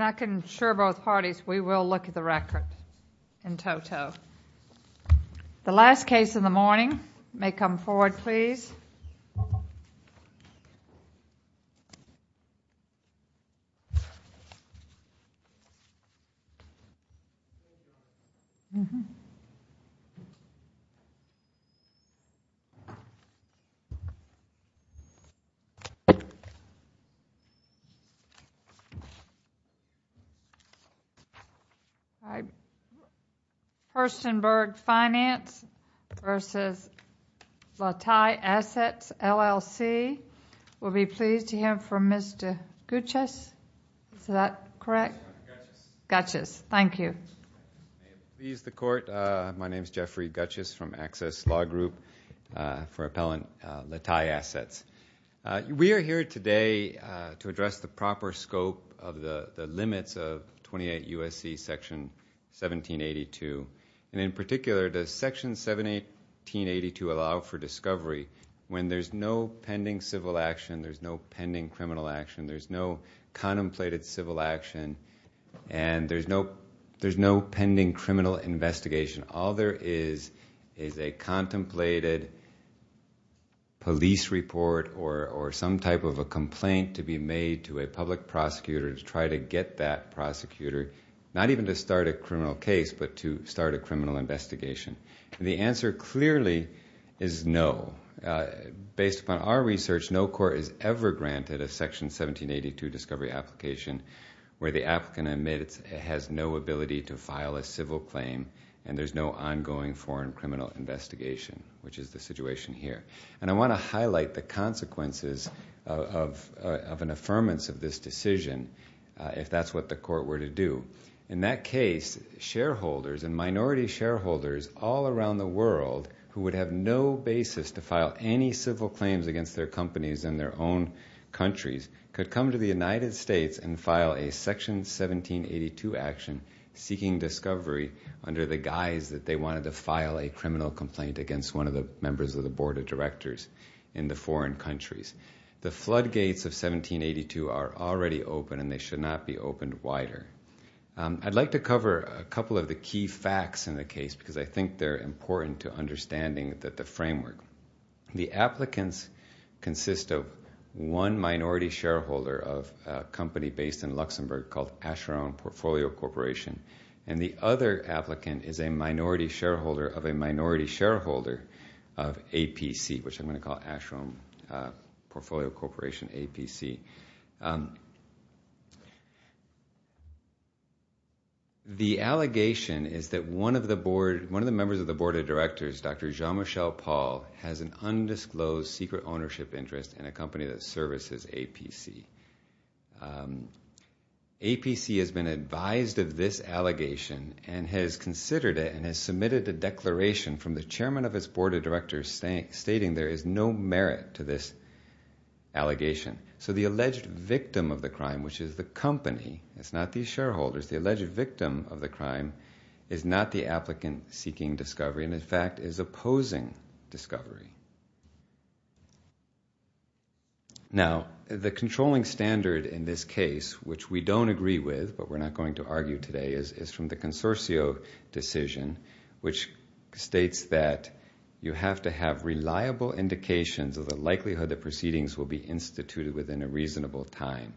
I can assure both parties we will look at the record in toto. The last case in the morning may come forward please. We are here today to address the proper scope of the limits of 28 U.S.C. section 1782 and in particular does section 1782 allow for discovery when there is no pending civil action, there is no pending criminal action, there is no contemplated civil action and there is no pending criminal investigation. All there is is a contemplated police report or some type of a complaint to be made to a public prosecutor to try to get that prosecutor not even to start a criminal case but to start a criminal investigation. The answer clearly is no. Based upon our research no court is ever granted a section 1782 discovery application where the applicant admits it has no ability to file a civil claim and there is no ongoing foreign criminal investigation which is the situation here. I want to highlight the consequences of an affirmance of this decision if that is what the court were to do. In that case, shareholders and minority shareholders all around the world who would have no basis to file any civil claims against their companies in their own countries could come to the United States and file a section 1782 action seeking discovery under the guise that they wanted to file a criminal complaint against one of the members of the board of directors in the foreign countries. The floodgates of 1782 are already open and they should not be opened wider. I'd like to cover a couple of the key facts in the case because I think they're important to understanding the framework. The applicants consist of one minority shareholder of a company based in Luxembourg called Asheron Portfolio Corporation and the other applicant is a minority shareholder of a minority shareholder of APC which I'm going to call Asheron Portfolio Corporation, APC. The allegation is that one of the members of the board of directors, Dr. Jean-Michel Paul, has an undisclosed secret ownership interest in a company that services APC. APC has been advised of this allegation and has considered it and has submitted a declaration from the chairman of its board of directors stating there is no merit to this allegation. So the alleged victim of the crime, which is the company, it's not these shareholders, the alleged victim of the crime is not the applicant seeking discovery and in fact is opposing discovery. Now the controlling standard in this case, which we don't agree with but we're not going to argue today, is from the consortio decision, which states that you have to have reliable indications of the likelihood that proceedings will be instituted within a reasonable time.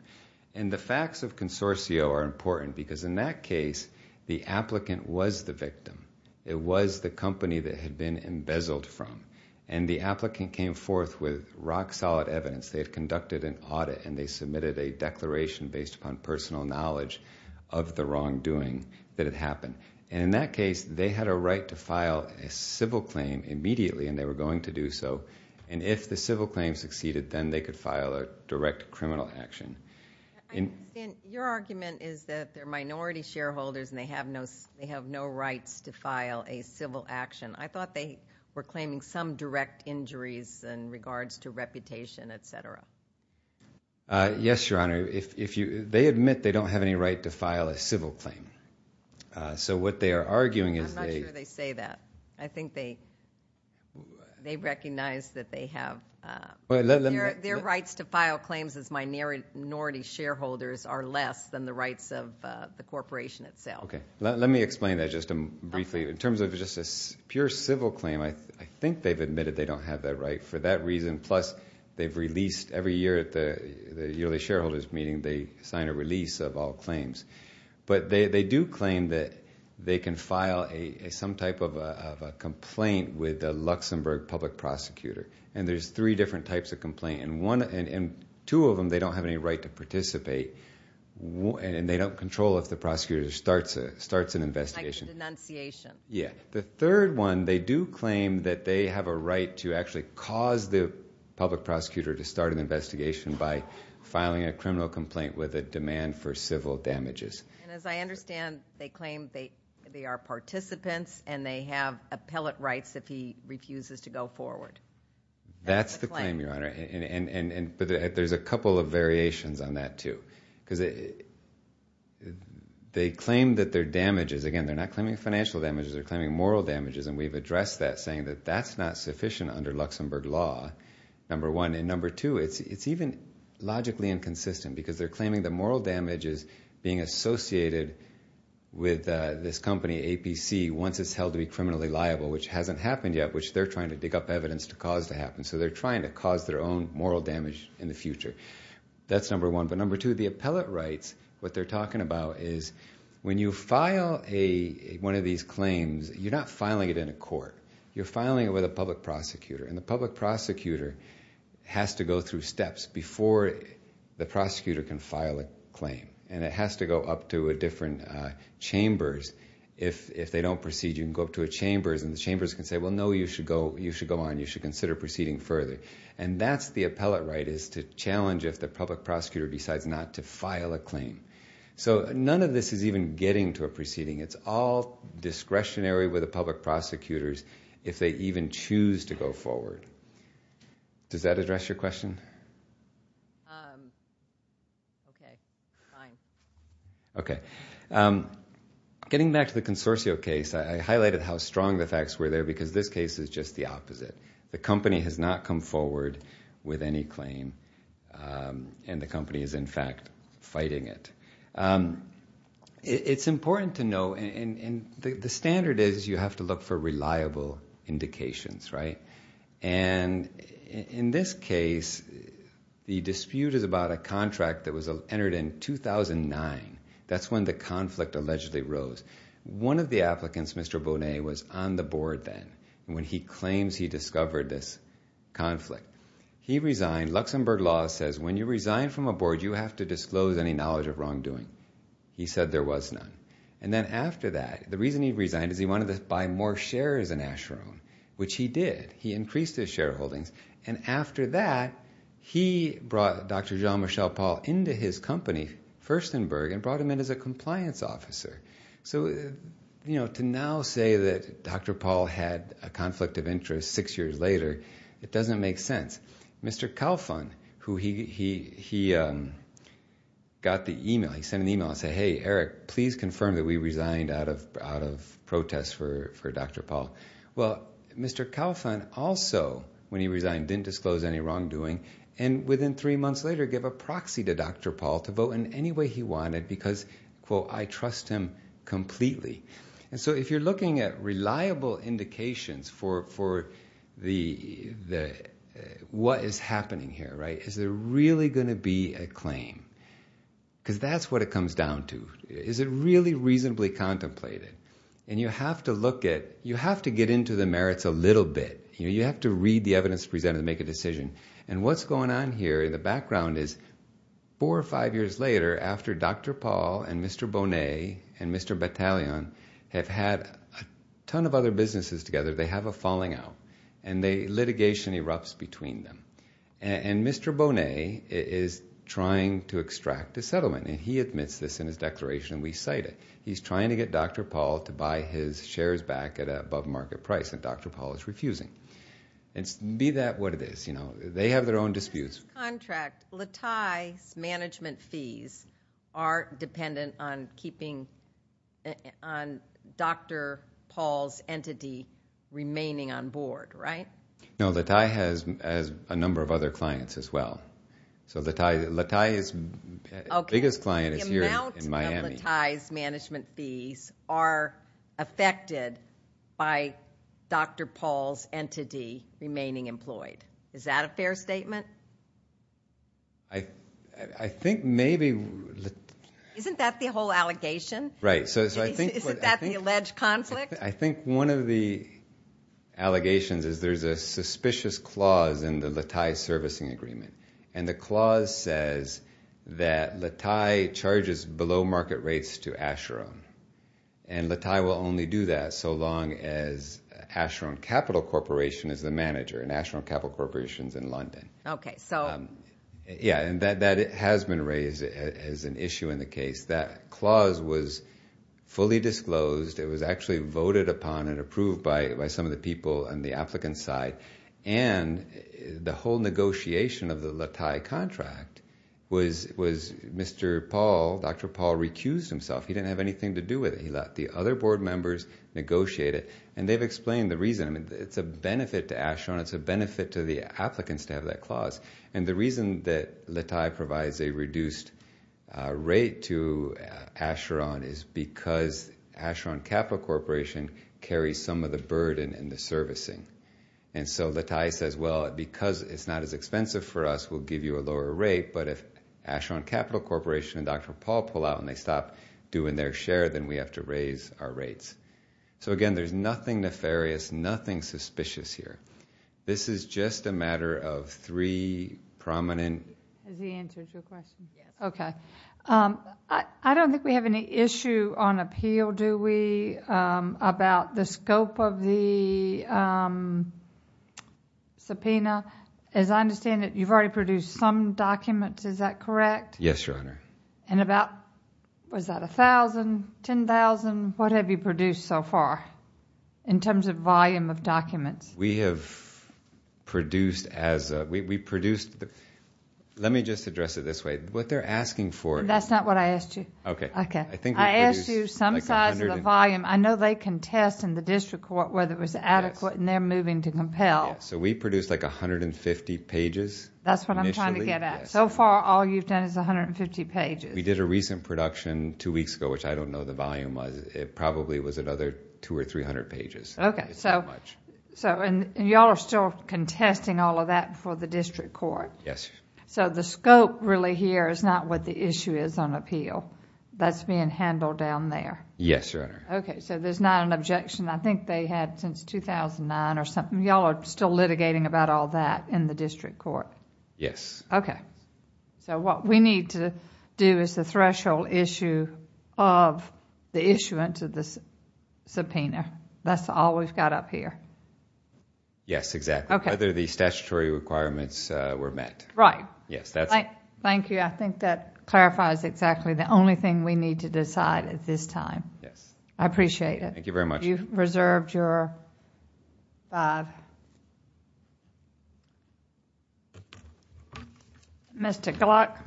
And the facts of consortio are important because in that case, the applicant was the victim. It was the company that had been embezzled from and the applicant came forth with rock solid evidence. They had conducted an audit and they submitted a declaration based upon personal knowledge of the wrongdoing that had happened. And in that case, they had a right to file a civil claim immediately and they were going to do so. And if the civil claim succeeded, then they could file a direct criminal action. Your argument is that they're minority shareholders and they have no rights to file a civil action. I thought they were claiming some direct injuries in regards to reputation, et cetera. Yes, Your Honor. They admit they don't have any right to file a civil claim. So what they are arguing is they... I'm not sure they say that. I think they recognize that they have... Their rights to file claims as minority shareholders are less than the rights of the corporation itself. Okay. Let me explain that just briefly. In terms of just a pure civil claim, I think they've admitted they don't have that right for that reason. And plus, they've released every year at the yearly shareholders meeting, they sign a release of all claims. But they do claim that they can file some type of a complaint with the Luxembourg public prosecutor. And there's three different types of complaint. And two of them, they don't have any right to participate. And they don't control if the prosecutor starts an investigation. Like a denunciation. Yeah. The third one, they do claim that they have a right to actually cause the public prosecutor to start an investigation by filing a criminal complaint with a demand for civil damages. And as I understand, they claim they are participants and they have appellate rights if he refuses to go forward. That's the claim, Your Honor. There's a couple of variations on that too. They claim that their damages... And we've addressed that, saying that that's not sufficient under Luxembourg law, number one. And number two, it's even logically inconsistent because they're claiming the moral damage is being associated with this company, APC, once it's held to be criminally liable, which hasn't happened yet, which they're trying to dig up evidence to cause to happen. So they're trying to cause their own moral damage in the future. That's number one. But number two, the appellate rights, what they're talking about is when you file one of these claims, you're not filing it in a court. You're filing it with a public prosecutor, and the public prosecutor has to go through steps before the prosecutor can file a claim. And it has to go up to a different chambers. If they don't proceed, you can go up to a chambers and the chambers can say, well, no, you should go on. You should consider proceeding further. And that's the appellate right, is to challenge if the public prosecutor decides not to file a claim. So none of this is even getting to a proceeding. It's all discretionary with the public prosecutors if they even choose to go forward. Does that address your question? Okay. Fine. Okay. Getting back to the Consorcio case, I highlighted how strong the facts were there because this case is just the opposite. The company has not come forward with any claim, and the company is, in fact, fighting it. It's important to know, and the standard is you have to look for reliable indications, right? And in this case, the dispute is about a contract that was entered in 2009. That's when the conflict allegedly rose. One of the applicants, Mr. Bonet, was on the board then when he claims he discovered this conflict. He resigned. Luxembourg Law says when you resign from a board, you have to disclose any knowledge of wrongdoing. He said there was none. And then after that, the reason he resigned is he wanted to buy more shares in Asheron, which he did. He increased his shareholdings. And after that, he brought Dr. Jean-Michel Paul into his company, Furstenberg, and brought him in as a compliance officer. So to now say that Dr. Paul had a conflict of interest six years later, it doesn't make sense. Mr. Kalfan, who he got the email, he sent an email and said, hey, Eric, please confirm that we resigned out of protest for Dr. Paul. Well, Mr. Kalfan also, when he resigned, didn't disclose any wrongdoing, and within three months later gave a proxy to Dr. Paul to vote in any way he wanted because, quote, I trust him completely. And so if you're looking at reliable indications for what is happening here, is there really going to be a claim? Because that's what it comes down to. Is it really reasonably contemplated? And you have to look at, you have to get into the merits a little bit. You have to read the evidence presented to make a decision. And what's going on here in the background is four or five years later, after Dr. Paul and Mr. Bonet and Mr. Battalion have had a ton of other businesses together, they have a falling out, and litigation erupts between them. And Mr. Bonet is trying to extract a settlement, and he admits this in his declaration, and we cite it. He's trying to get Dr. Paul to buy his shares back at an above-market price, and Dr. Paul is refusing. And be that what it is, you know, they have their own disputes. In this contract, Latai's management fees are dependent on Dr. Paul's entity remaining on board, right? No. Latai has a number of other clients as well. So Latai's biggest client is here in Miami. Okay. The amount of Latai's management fees are affected by Dr. Paul's entity remaining employed. Is that a fair statement? I think maybe... Isn't that the whole allegation? Right. So I think... Isn't that the alleged conflict? I think one of the allegations is there's a suspicious clause in the Latai servicing agreement. And the clause says that Latai charges below market rates to Asheron. And Latai will only do that so long as Asheron Capital Corporation is the manager, and Asheron Capital Corporation's in London. Okay. So... Yeah. And that has been raised as an issue in the case. That clause was fully disclosed. It was actually voted upon and approved by some of the people on the applicant's side. And the whole negotiation of the Latai contract was Mr. Paul, Dr. Paul recused himself. He didn't have anything to do with it. The other board members negotiated. And they've explained the reason. It's a benefit to Asheron. It's a benefit to the applicants to have that clause. And the reason that Latai provides a reduced rate to Asheron is because Asheron Capital Corporation carries some of the burden in the servicing. And so Latai says, well, because it's not as expensive for us, we'll give you a lower rate. But if Asheron Capital Corporation and Dr. Paul pull out and they stop doing their share, then we have to raise our rates. So again, there's nothing nefarious, nothing suspicious here. This is just a matter of three prominent... Has he answered your question? Yes. Okay. I don't think we have any issue on appeal, do we, about the scope of the subpoena? As I understand it, you've already produced some documents. Is that correct? Yes, Your Honor. And about... Was that 1,000? 10,000? What have you produced so far in terms of volume of documents? We have produced as a... Let me just address it this way. What they're asking for... That's not what I asked you. Okay. Okay. I asked you some size of the volume. I know they can test in the district court whether it was adequate and they're moving to compel. Yes. So we produced like 150 pages initially. That's what I'm trying to get at. So far, all you've done is 150 pages. We did a recent production two weeks ago, which I don't know the volume was. It probably was another two or three hundred pages. Okay. It's that much. And you all are still contesting all of that for the district court? Yes, Your Honor. So the scope really here is not what the issue is on appeal. That's being handled down there? Yes, Your Honor. Okay. So there's not an objection. I think they had since 2009 or something. You all are still litigating about all that in the district court? Yes. Okay. So what we need to do is the threshold issue of the issuance of the subpoena. That's all we've got up here. Yes, exactly. Okay. Whether the statutory requirements were met. Right. Yes, that's it. Thank you. I think that clarifies exactly the only thing we need to decide at this time. Yes. I appreciate it. Thank you very much. I thought you reserved your... Mr. Gluck.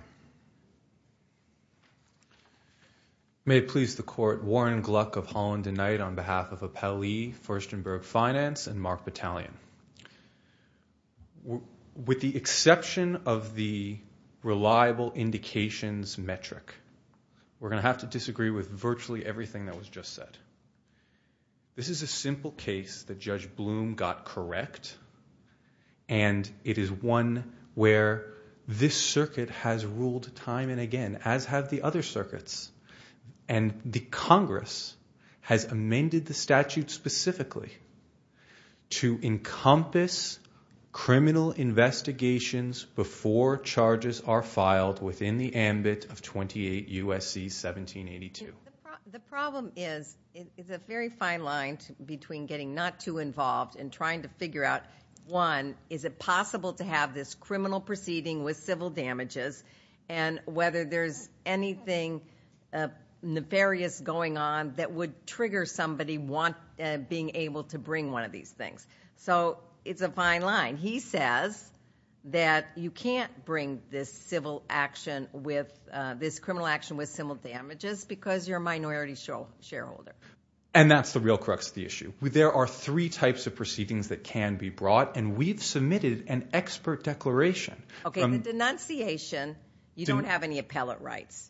May it please the court. Warren Gluck of Holland and Knight on behalf of Appelli, Furstenberg Finance and Mark Battalion. With the exception of the reliable indications metric, we're going to have to disagree with This is a simple case that Judge Bloom got correct and it is one where this circuit has ruled time and again, as have the other circuits. The Congress has amended the statute specifically to encompass criminal investigations before charges are filed within the ambit of 28 U.S.C. 1782. The problem is, it's a very fine line between getting not too involved and trying to figure out one, is it possible to have this criminal proceeding with civil damages and whether there's anything nefarious going on that would trigger somebody being able to bring one of these things. It's a fine line. And he says that you can't bring this criminal action with civil damages because you're a minority shareholder. And that's the real crux of the issue. There are three types of proceedings that can be brought and we've submitted an expert declaration. Okay. The denunciation, you don't have any appellate rights,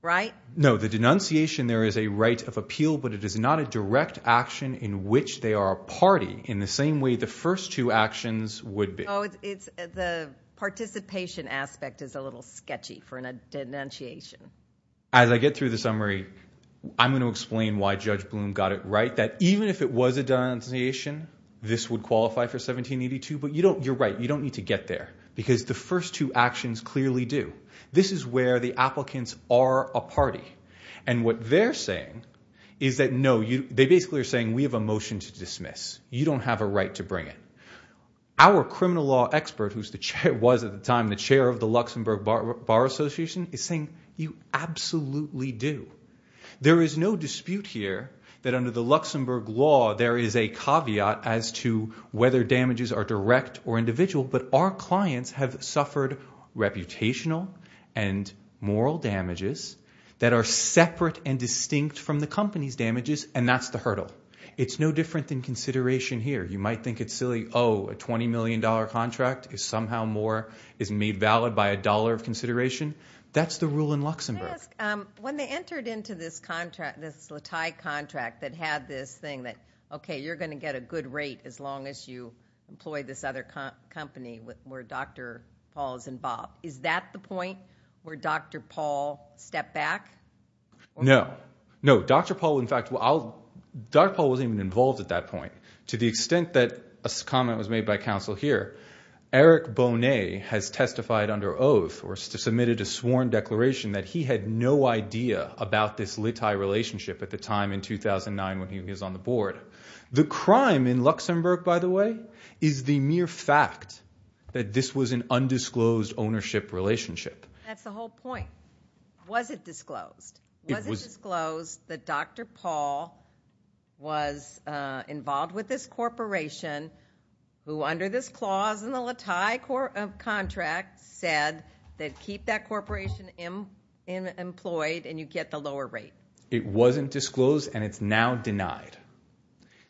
right? No. The denunciation, there is a right of appeal, but it is not a direct action in which they are a party in the same way the first two actions would be. The participation aspect is a little sketchy for a denunciation. As I get through the summary, I'm going to explain why Judge Blum got it right that even if it was a denunciation, this would qualify for 1782, but you're right, you don't need to get there because the first two actions clearly do. This is where the applicants are a party. And what they're saying is that no, they basically are saying we have a motion to dismiss. You don't have a right to bring it. Our criminal law expert, who was at the time the chair of the Luxembourg Bar Association, is saying you absolutely do. There is no dispute here that under the Luxembourg law, there is a caveat as to whether damages are direct or individual, but our clients have suffered reputational and moral damages that are separate and distinct from the company's damages, and that's the hurdle. It's no different than consideration here. You might think it's silly, oh, a $20 million contract is somehow more, is made valid by a dollar of consideration. That's the rule in Luxembourg. Can I ask, when they entered into this contract, this Latai contract that had this thing that, okay, you're going to get a good rate as long as you employ this other company where Dr. Paul is involved. Is that the point where Dr. Paul stepped back? No. No, Dr. Paul, in fact, Dr. Paul wasn't even involved at that point. To the extent that a comment was made by counsel here, Eric Bonet has testified under oath or submitted a sworn declaration that he had no idea about this Latai relationship at the time in 2009 when he was on the board. The crime in Luxembourg, by the way, is the mere fact that this was an undisclosed ownership relationship. That's the whole point. Was it disclosed? Was it disclosed that Dr. Paul was involved with this corporation who under this clause in the Latai contract said that keep that corporation employed and you get the lower rate? It wasn't disclosed and it's now denied.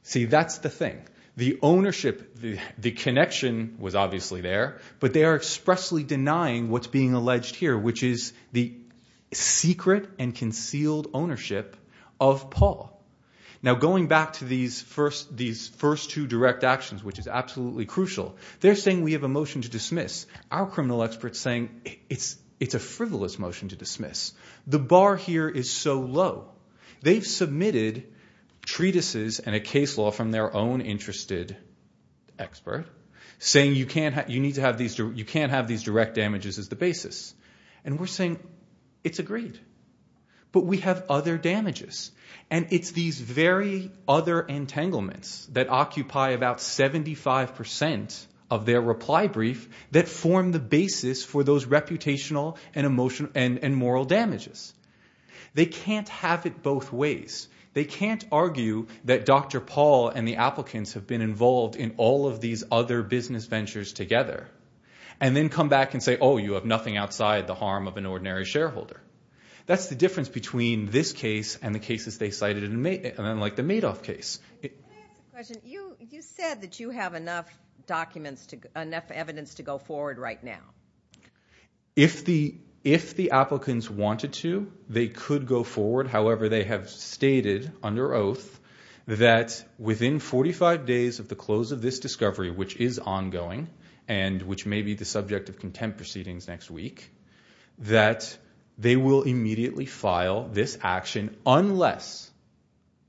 See, that's the thing. The ownership, the connection was obviously there, but they are expressly denying what's being alleged here, which is the secret and concealed ownership of Paul. Now going back to these first two direct actions, which is absolutely crucial, they're saying we have a motion to dismiss. Our criminal expert's saying it's a frivolous motion to dismiss. The bar here is so low. They've submitted treatises and a case law from their own interested expert saying you can't have these direct damages as the basis. And we're saying it's agreed, but we have other damages. And it's these very other entanglements that occupy about 75% of their reply brief that form the basis for those reputational and moral damages. They can't have it both ways. They can't argue that Dr. Paul and the applicants have been involved in all of these other business ventures together and then come back and say, oh, you have nothing outside the harm of an ordinary shareholder. That's the difference between this case and the cases they cited, like the Madoff case. Can I ask a question? You said that you have enough evidence to go forward right now. If the applicants wanted to, they could go forward. However, they have stated under oath that within 45 days of the close of this discovery, which is ongoing and which may be the subject of contempt proceedings next week, that they will immediately file this action unless,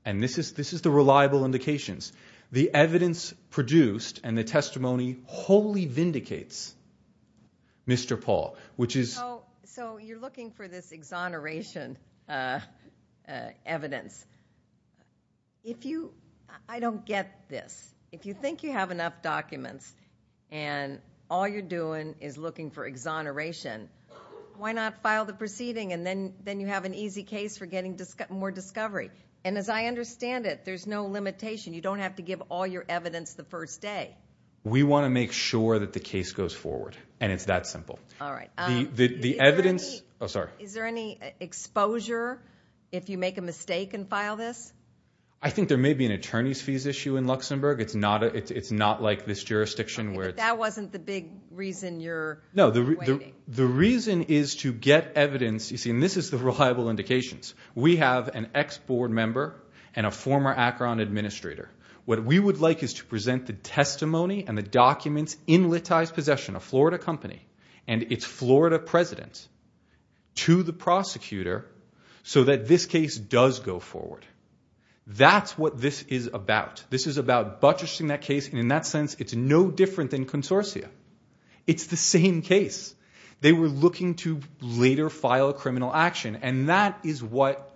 and this is the reliable indications, the evidence produced and the testimony wholly vindicates Mr. Paul, which is... So you're looking for this exoneration evidence. If you... I don't get this. If you think you have enough documents and all you're doing is looking for exoneration, why not file the proceeding and then you have an easy case for getting more discovery? And as I understand it, there's no limitation. You don't have to give all your evidence the first day. We want to make sure that the case goes forward, and it's that simple. The evidence... Oh, sorry. Is there any exposure if you make a mistake and file this? I think there may be an attorney's fees issue in Luxembourg. It's not like this jurisdiction where it's... The reason is to get evidence, you see, and this is the reliable indications. We have an ex-board member and a former Akron administrator. What we would like is to present the testimony and the documents in Littai's possession, a Florida company, and its Florida president to the prosecutor so that this case does go forward. That's what this is about. This is about buttressing that case, and in that sense, it's no different than consortia. It's the same case. They were looking to later file a criminal action, and that is what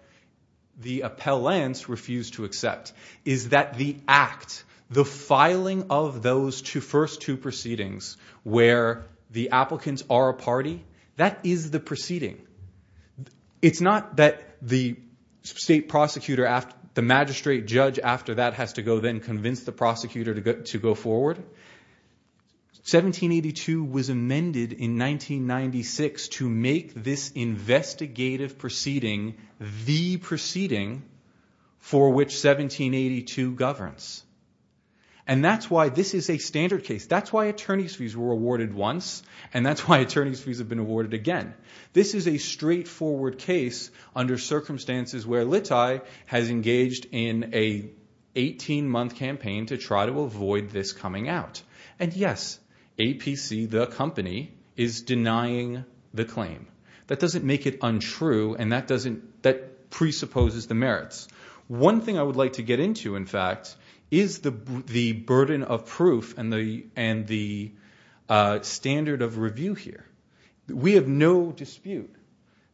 the appellants refused to accept, is that the act, the filing of those first two proceedings where the applicants are a party, that is the proceeding. It's not that the state prosecutor, the magistrate judge after that has to go then convince the prosecutor to go forward. But 1782 was amended in 1996 to make this investigative proceeding the proceeding for which 1782 governs. And that's why this is a standard case. That's why attorney's fees were awarded once, and that's why attorney's fees have been awarded again. This is a straightforward case under circumstances where Littai has engaged in an 18-month campaign to try to avoid this coming out. And yes, APC, the company, is denying the claim. That doesn't make it untrue, and that presupposes the merits. One thing I would like to get into, in fact, is the burden of proof and the standard of review here. We have no dispute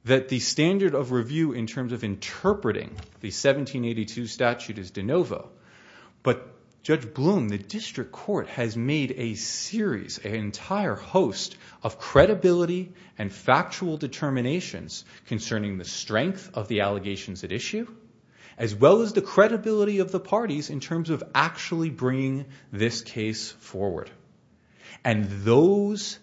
that the standard of review in terms of interpreting the 1782 statute is de novo, but Judge Bloom, the district court, has made a series, an entire host of credibility and factual determinations concerning the strength of the allegations at issue, as well as the credibility of the parties in terms of actually bringing this case forward. And those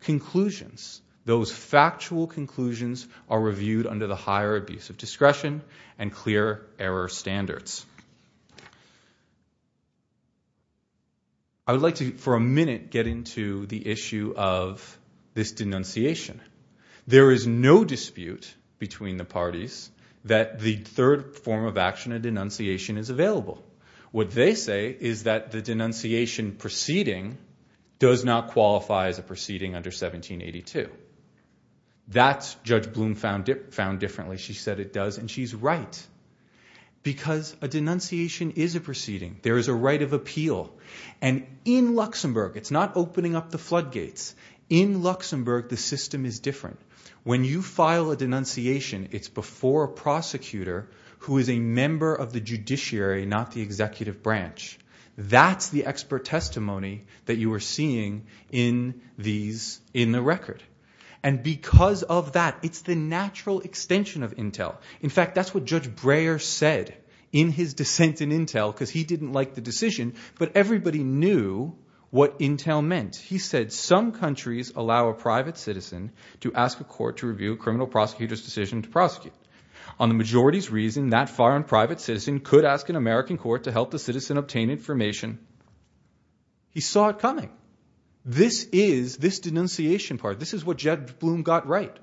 conclusions, those factual conclusions, are reviewed under the higher abuse of discretion and clear error standards. I would like to, for a minute, get into the issue of this denunciation. There is no dispute between the parties that the third form of action, a denunciation, is available. What they say is that the denunciation proceeding does not qualify as a proceeding under 1782. That's Judge Bloom found differently. She said it does, and she's right. Because a denunciation is a proceeding. There is a right of appeal. And in Luxembourg, it's not opening up the floodgates. In Luxembourg, the system is different. When you file a denunciation, it's before a prosecutor who is a member of the judiciary, not the executive branch. That's the expert testimony that you are seeing in the record. And because of that, it's the natural extension of intel. In fact, that's what Judge Breyer said in his dissent in intel, because he didn't like the decision. But everybody knew what intel meant. He said, some countries allow a private citizen to ask a court to review a criminal prosecutor's decision to prosecute. On the majority's reason, that foreign private citizen could ask an American court to help the citizen obtain information. He saw it coming. This is, this denunciation part, this is what Judge Bloom got right.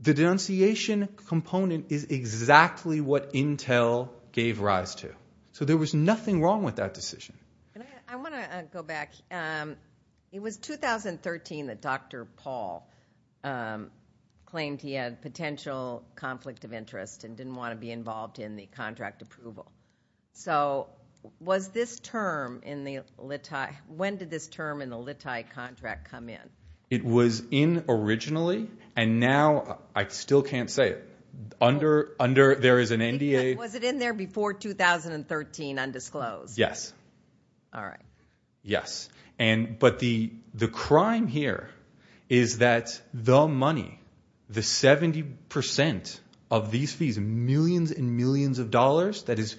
The denunciation component is exactly what intel gave rise to. So there was nothing wrong with that decision. I want to go back. It was 2013 that Dr. Paul claimed he had potential conflict of interest and didn't want to be involved in the contract approval. So was this term in the Littai, when did this term in the Littai contract come in? It was in originally, and now, I still can't say it, under, there is an NDA. Was it in there before 2013, undisclosed? Yes. All right. Yes. And, but the crime here is that the money, the 70% of these fees, millions and millions of dollars that is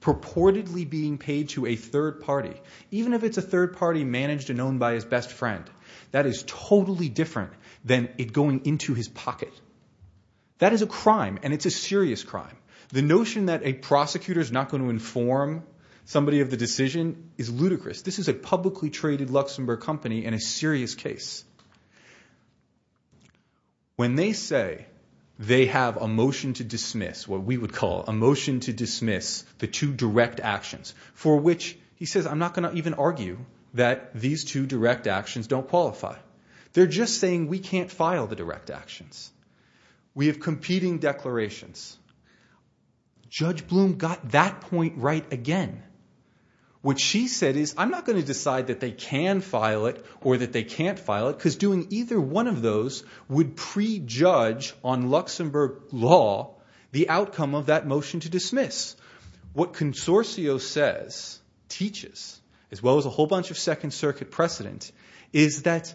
purportedly being paid to a third party, even if it's a third party managed and owned by his best friend, that is totally different than it going into his pocket. That is a crime, and it's a serious crime. The notion that a prosecutor's not going to inform somebody of the decision is ludicrous. This is a publicly traded Luxembourg company and a serious case. When they say they have a motion to dismiss, what we would call a motion to dismiss the two direct actions, for which he says, I'm not going to even argue that these two direct actions don't qualify. They're just saying we can't file the direct actions. We have competing declarations. Judge Bloom got that point right again. What she said is, I'm not going to decide that they can file it or that they can't file it because doing either one of those would prejudge on Luxembourg law the outcome of that motion to dismiss. What Consortio says, teaches, as well as a whole bunch of Second Circuit precedent, is that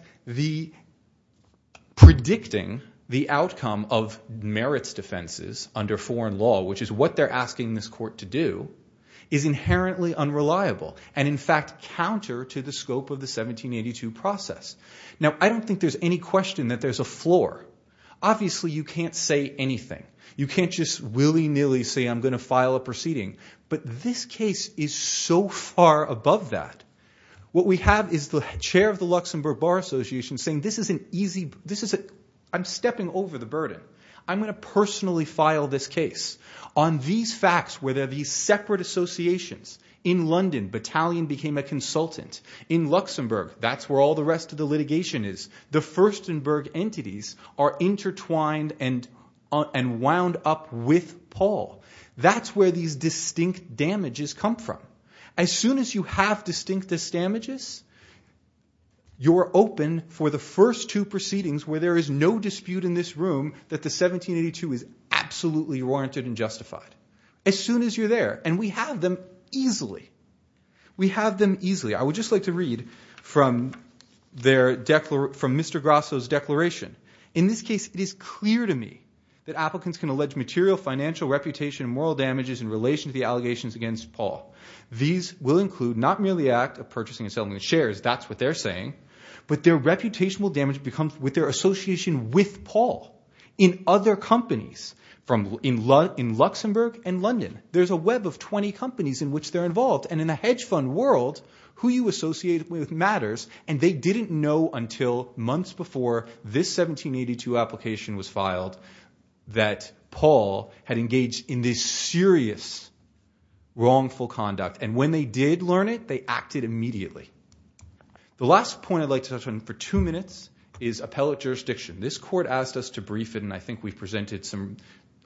predicting the outcome of merits defenses under foreign law, which is what they're asking this court to do, is inherently unreliable and in fact counter to the scope of the 1782 process. Now, I don't think there's any question that there's a floor. Obviously, you can't say anything. You can't just willy-nilly say, I'm going to file a proceeding. But this case is so far above that. What we have is the chair of the Luxembourg Bar Association saying, I'm stepping over the burden. I'm going to personally file this case. On these facts, where there are these separate associations, in London, Battalion became a consultant. In Luxembourg, that's where all the rest of the litigation is. The Furstenberg entities are intertwined and wound up with Paul. That's where these distinct damages come from. As soon as you have distinct damages, you're open for the first two proceedings where there is no dispute in this room that the 1782 is absolutely warranted and justified. As soon as you're there. And we have them easily. We have them easily. I would just like to read from Mr. Grasso's declaration. In this case, it is clear to me that applicants can allege material financial reputation and moral damages in relation to the allegations against Paul. These will include not merely the act of purchasing and selling the shares. That's what they're saying. But their reputation will damage with their association with Paul. In other companies, in Luxembourg and London, there's a web of 20 companies in which they're involved. And in the hedge fund world, who you associate with matters. And they didn't know until months before this 1782 application was filed that Paul had engaged in this serious wrongful conduct. And when they did learn it, they acted immediately. The last point I'd like to touch on for two minutes is appellate jurisdiction. This court asked us to brief it. And I think we've presented some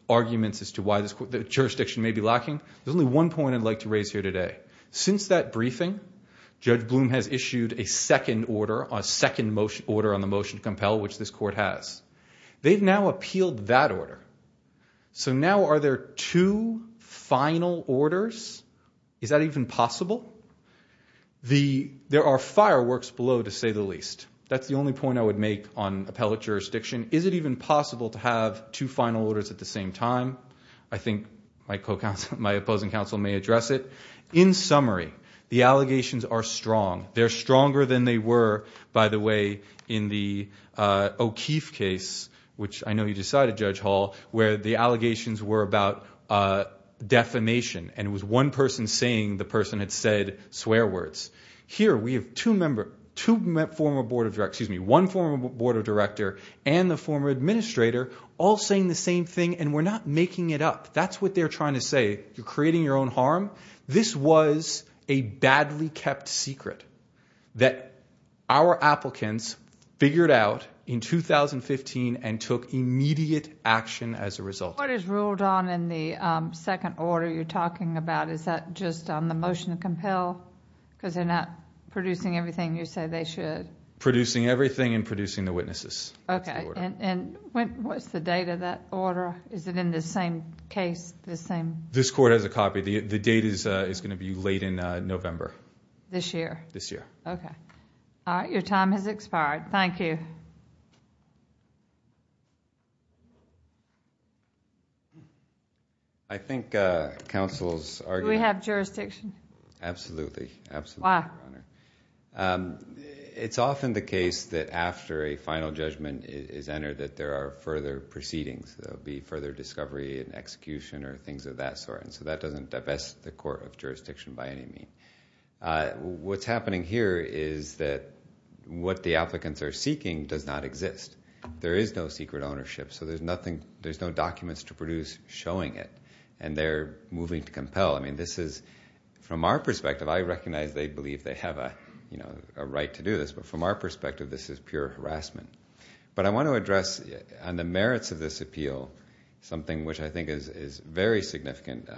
arguments as to why this jurisdiction may be lacking. There's only one point I'd like to raise here today. Since that briefing, Judge Bloom has issued a second order, a second order on the motion to compel, which this court has. They've now appealed that order. So now are there two final orders? Is that even possible? There are fireworks below, to say the least. That's the only point I would make on appellate jurisdiction. Is it even possible to have two final orders at the same time? I think my opposing counsel may address it. In summary, the allegations are strong. They're stronger than they were, by the way, in the O'Keefe case, which I know you decided, Judge Hall, where the allegations were about defamation. And it was one person saying the person had said swear words. Here, we have two former board of directors, excuse me, one former board of director and the former administrator, all saying the same thing, and we're not making it up. That's what they're trying to say. You're creating your own harm. This was a badly kept secret that our applicants figured out in 2015 and took immediate action as a result. What is ruled on in the second order you're talking about? Is that just on the motion to compel, because they're not producing everything you say they should? Producing everything and producing the witnesses. Okay, and what's the date of that order? Is it in the same case? The same... This court has a copy. The date is going to be late in November. This year? This year. Okay. All right. Your time has expired. I think counsel's argument... Do we have jurisdiction? Absolutely. Absolutely. Why? It's often the case that after a final judgment is entered that there are further proceedings. There'll be further discovery and execution or things of that sort, and so that doesn't divest the court of jurisdiction by any mean. What's happening here is that what the applicants are seeking does not exist. There is no secret ownership, so there's no documents to produce showing it, and they're moving to compel. This is, from our perspective... I recognize they believe they have a right to do this, but from our perspective, this is pure harassment, but I want to address on the merits of this appeal something which I think is very significant.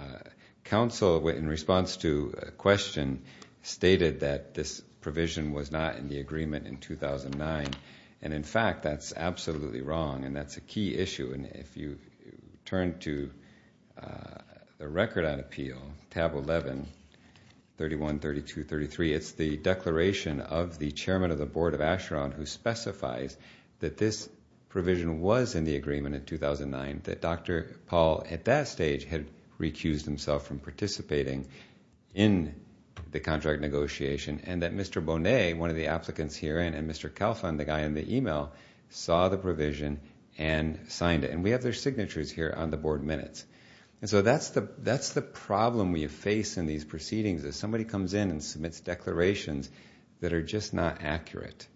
Counsel, in response to a question, stated that this provision was not in the agreement in 2009, and in fact, that's absolutely wrong, and that's a key issue. If you turn to the record on appeal, tab 11, 31, 32, 33, it's the declaration of the chairman of the board of Asheron who specifies that this provision was in the agreement in 2009, that Dr. Paul, at that stage, had recused himself from participating in the contract negotiation, and that Mr. and signed it. We have their signatures here on the board minutes, and so that's the problem we face in these proceedings. If somebody comes in and submits declarations that are just not accurate,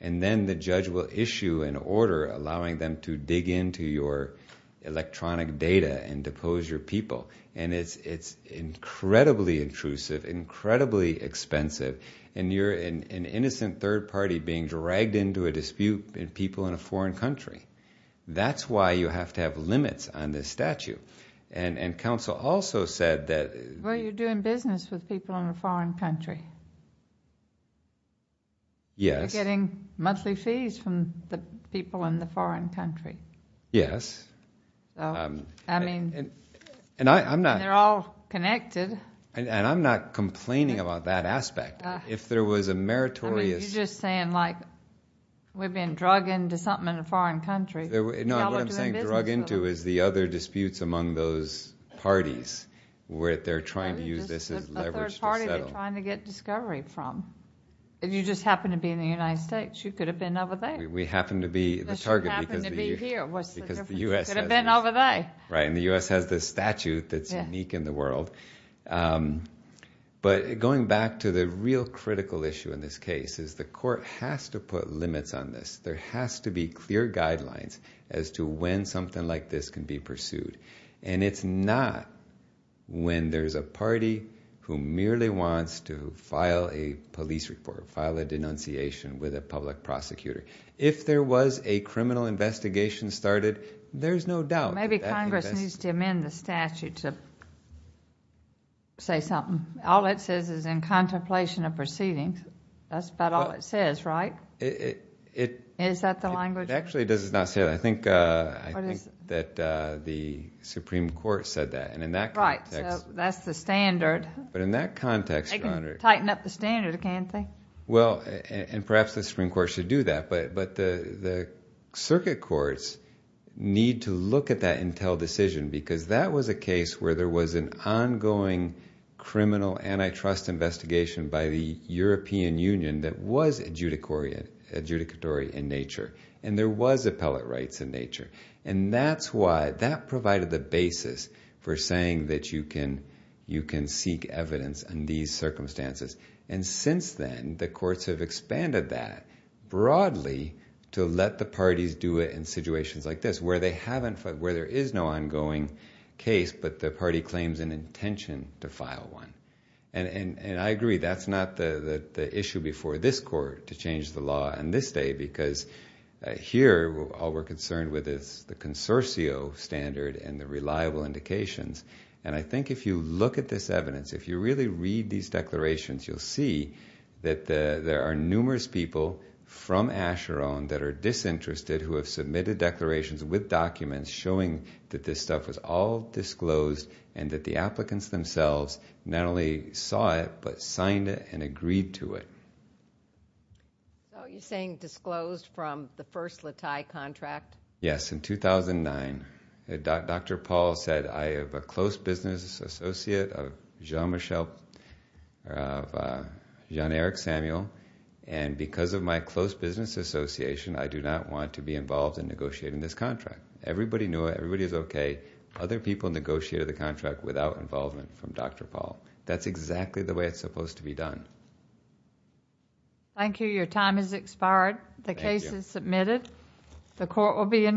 and then the judge will issue an order allowing them to dig into your electronic data and depose your people, and it's incredibly intrusive, incredibly expensive, and you're an innocent third party being dragged into a dispute with people in a foreign country, that's why you have to have limits on this statute, and counsel also said that... Well, you're doing business with people in a foreign country. Yes. You're getting monthly fees from the people in the foreign country. Yes. I mean... And I'm not... They're all connected. If there was a meritorious... You're just saying like we've been drug into something in a foreign country. No, what I'm saying drug into is the other disputes among those parties where they're trying to use this as leverage to settle. A third party they're trying to get discovery from. You just happen to be in the United States. You could have been over there. We happen to be the target because the U.S.... You just happen to be here. What's the difference? You could have been over there. Right, and the U.S. has this statute that's unique in the world, but going back to the critical issue in this case is the court has to put limits on this. There has to be clear guidelines as to when something like this can be pursued, and it's not when there's a party who merely wants to file a police report, file a denunciation with a public prosecutor. If there was a criminal investigation started, there's no doubt... Maybe Congress needs to amend the statute to say something. All it says is in contemplation of proceedings. That's about all it says, right? Is that the language? Actually, it does not say that. I think that the Supreme Court said that, and in that context... Right, so that's the standard. But in that context... They can tighten up the standard, can't they? Well, and perhaps the Supreme Court should do that, but the circuit courts need to look at that Intel decision because that was a case where there was an ongoing criminal antitrust investigation by the European Union that was adjudicatory in nature, and there was appellate rights in nature, and that's why... That provided the basis for saying that you can seek evidence in these circumstances, and since then, the courts have expanded that broadly to let the parties do it in where there is no ongoing case, but the party claims an intention to file one. And I agree, that's not the issue before this court to change the law on this day, because here, all we're concerned with is the consorcio standard and the reliable indications. And I think if you look at this evidence, if you really read these declarations, you'll see that there are numerous people from Asheron that are disinterested who have submitted declarations with documents showing that this stuff was all disclosed and that the applicants themselves not only saw it, but signed it and agreed to it. So you're saying disclosed from the first Latai contract? Yes, in 2009. Dr. Paul said, I have a close business associate of Jean-Michel... of Jean-Eric Samuel, and because of my close business association, I do not want to be in this contract. Everybody knew it, everybody was okay. Other people negotiated the contract without involvement from Dr. Paul. That's exactly the way it's supposed to be done. Thank you. Your time has expired. The case is submitted. The court will be in recess.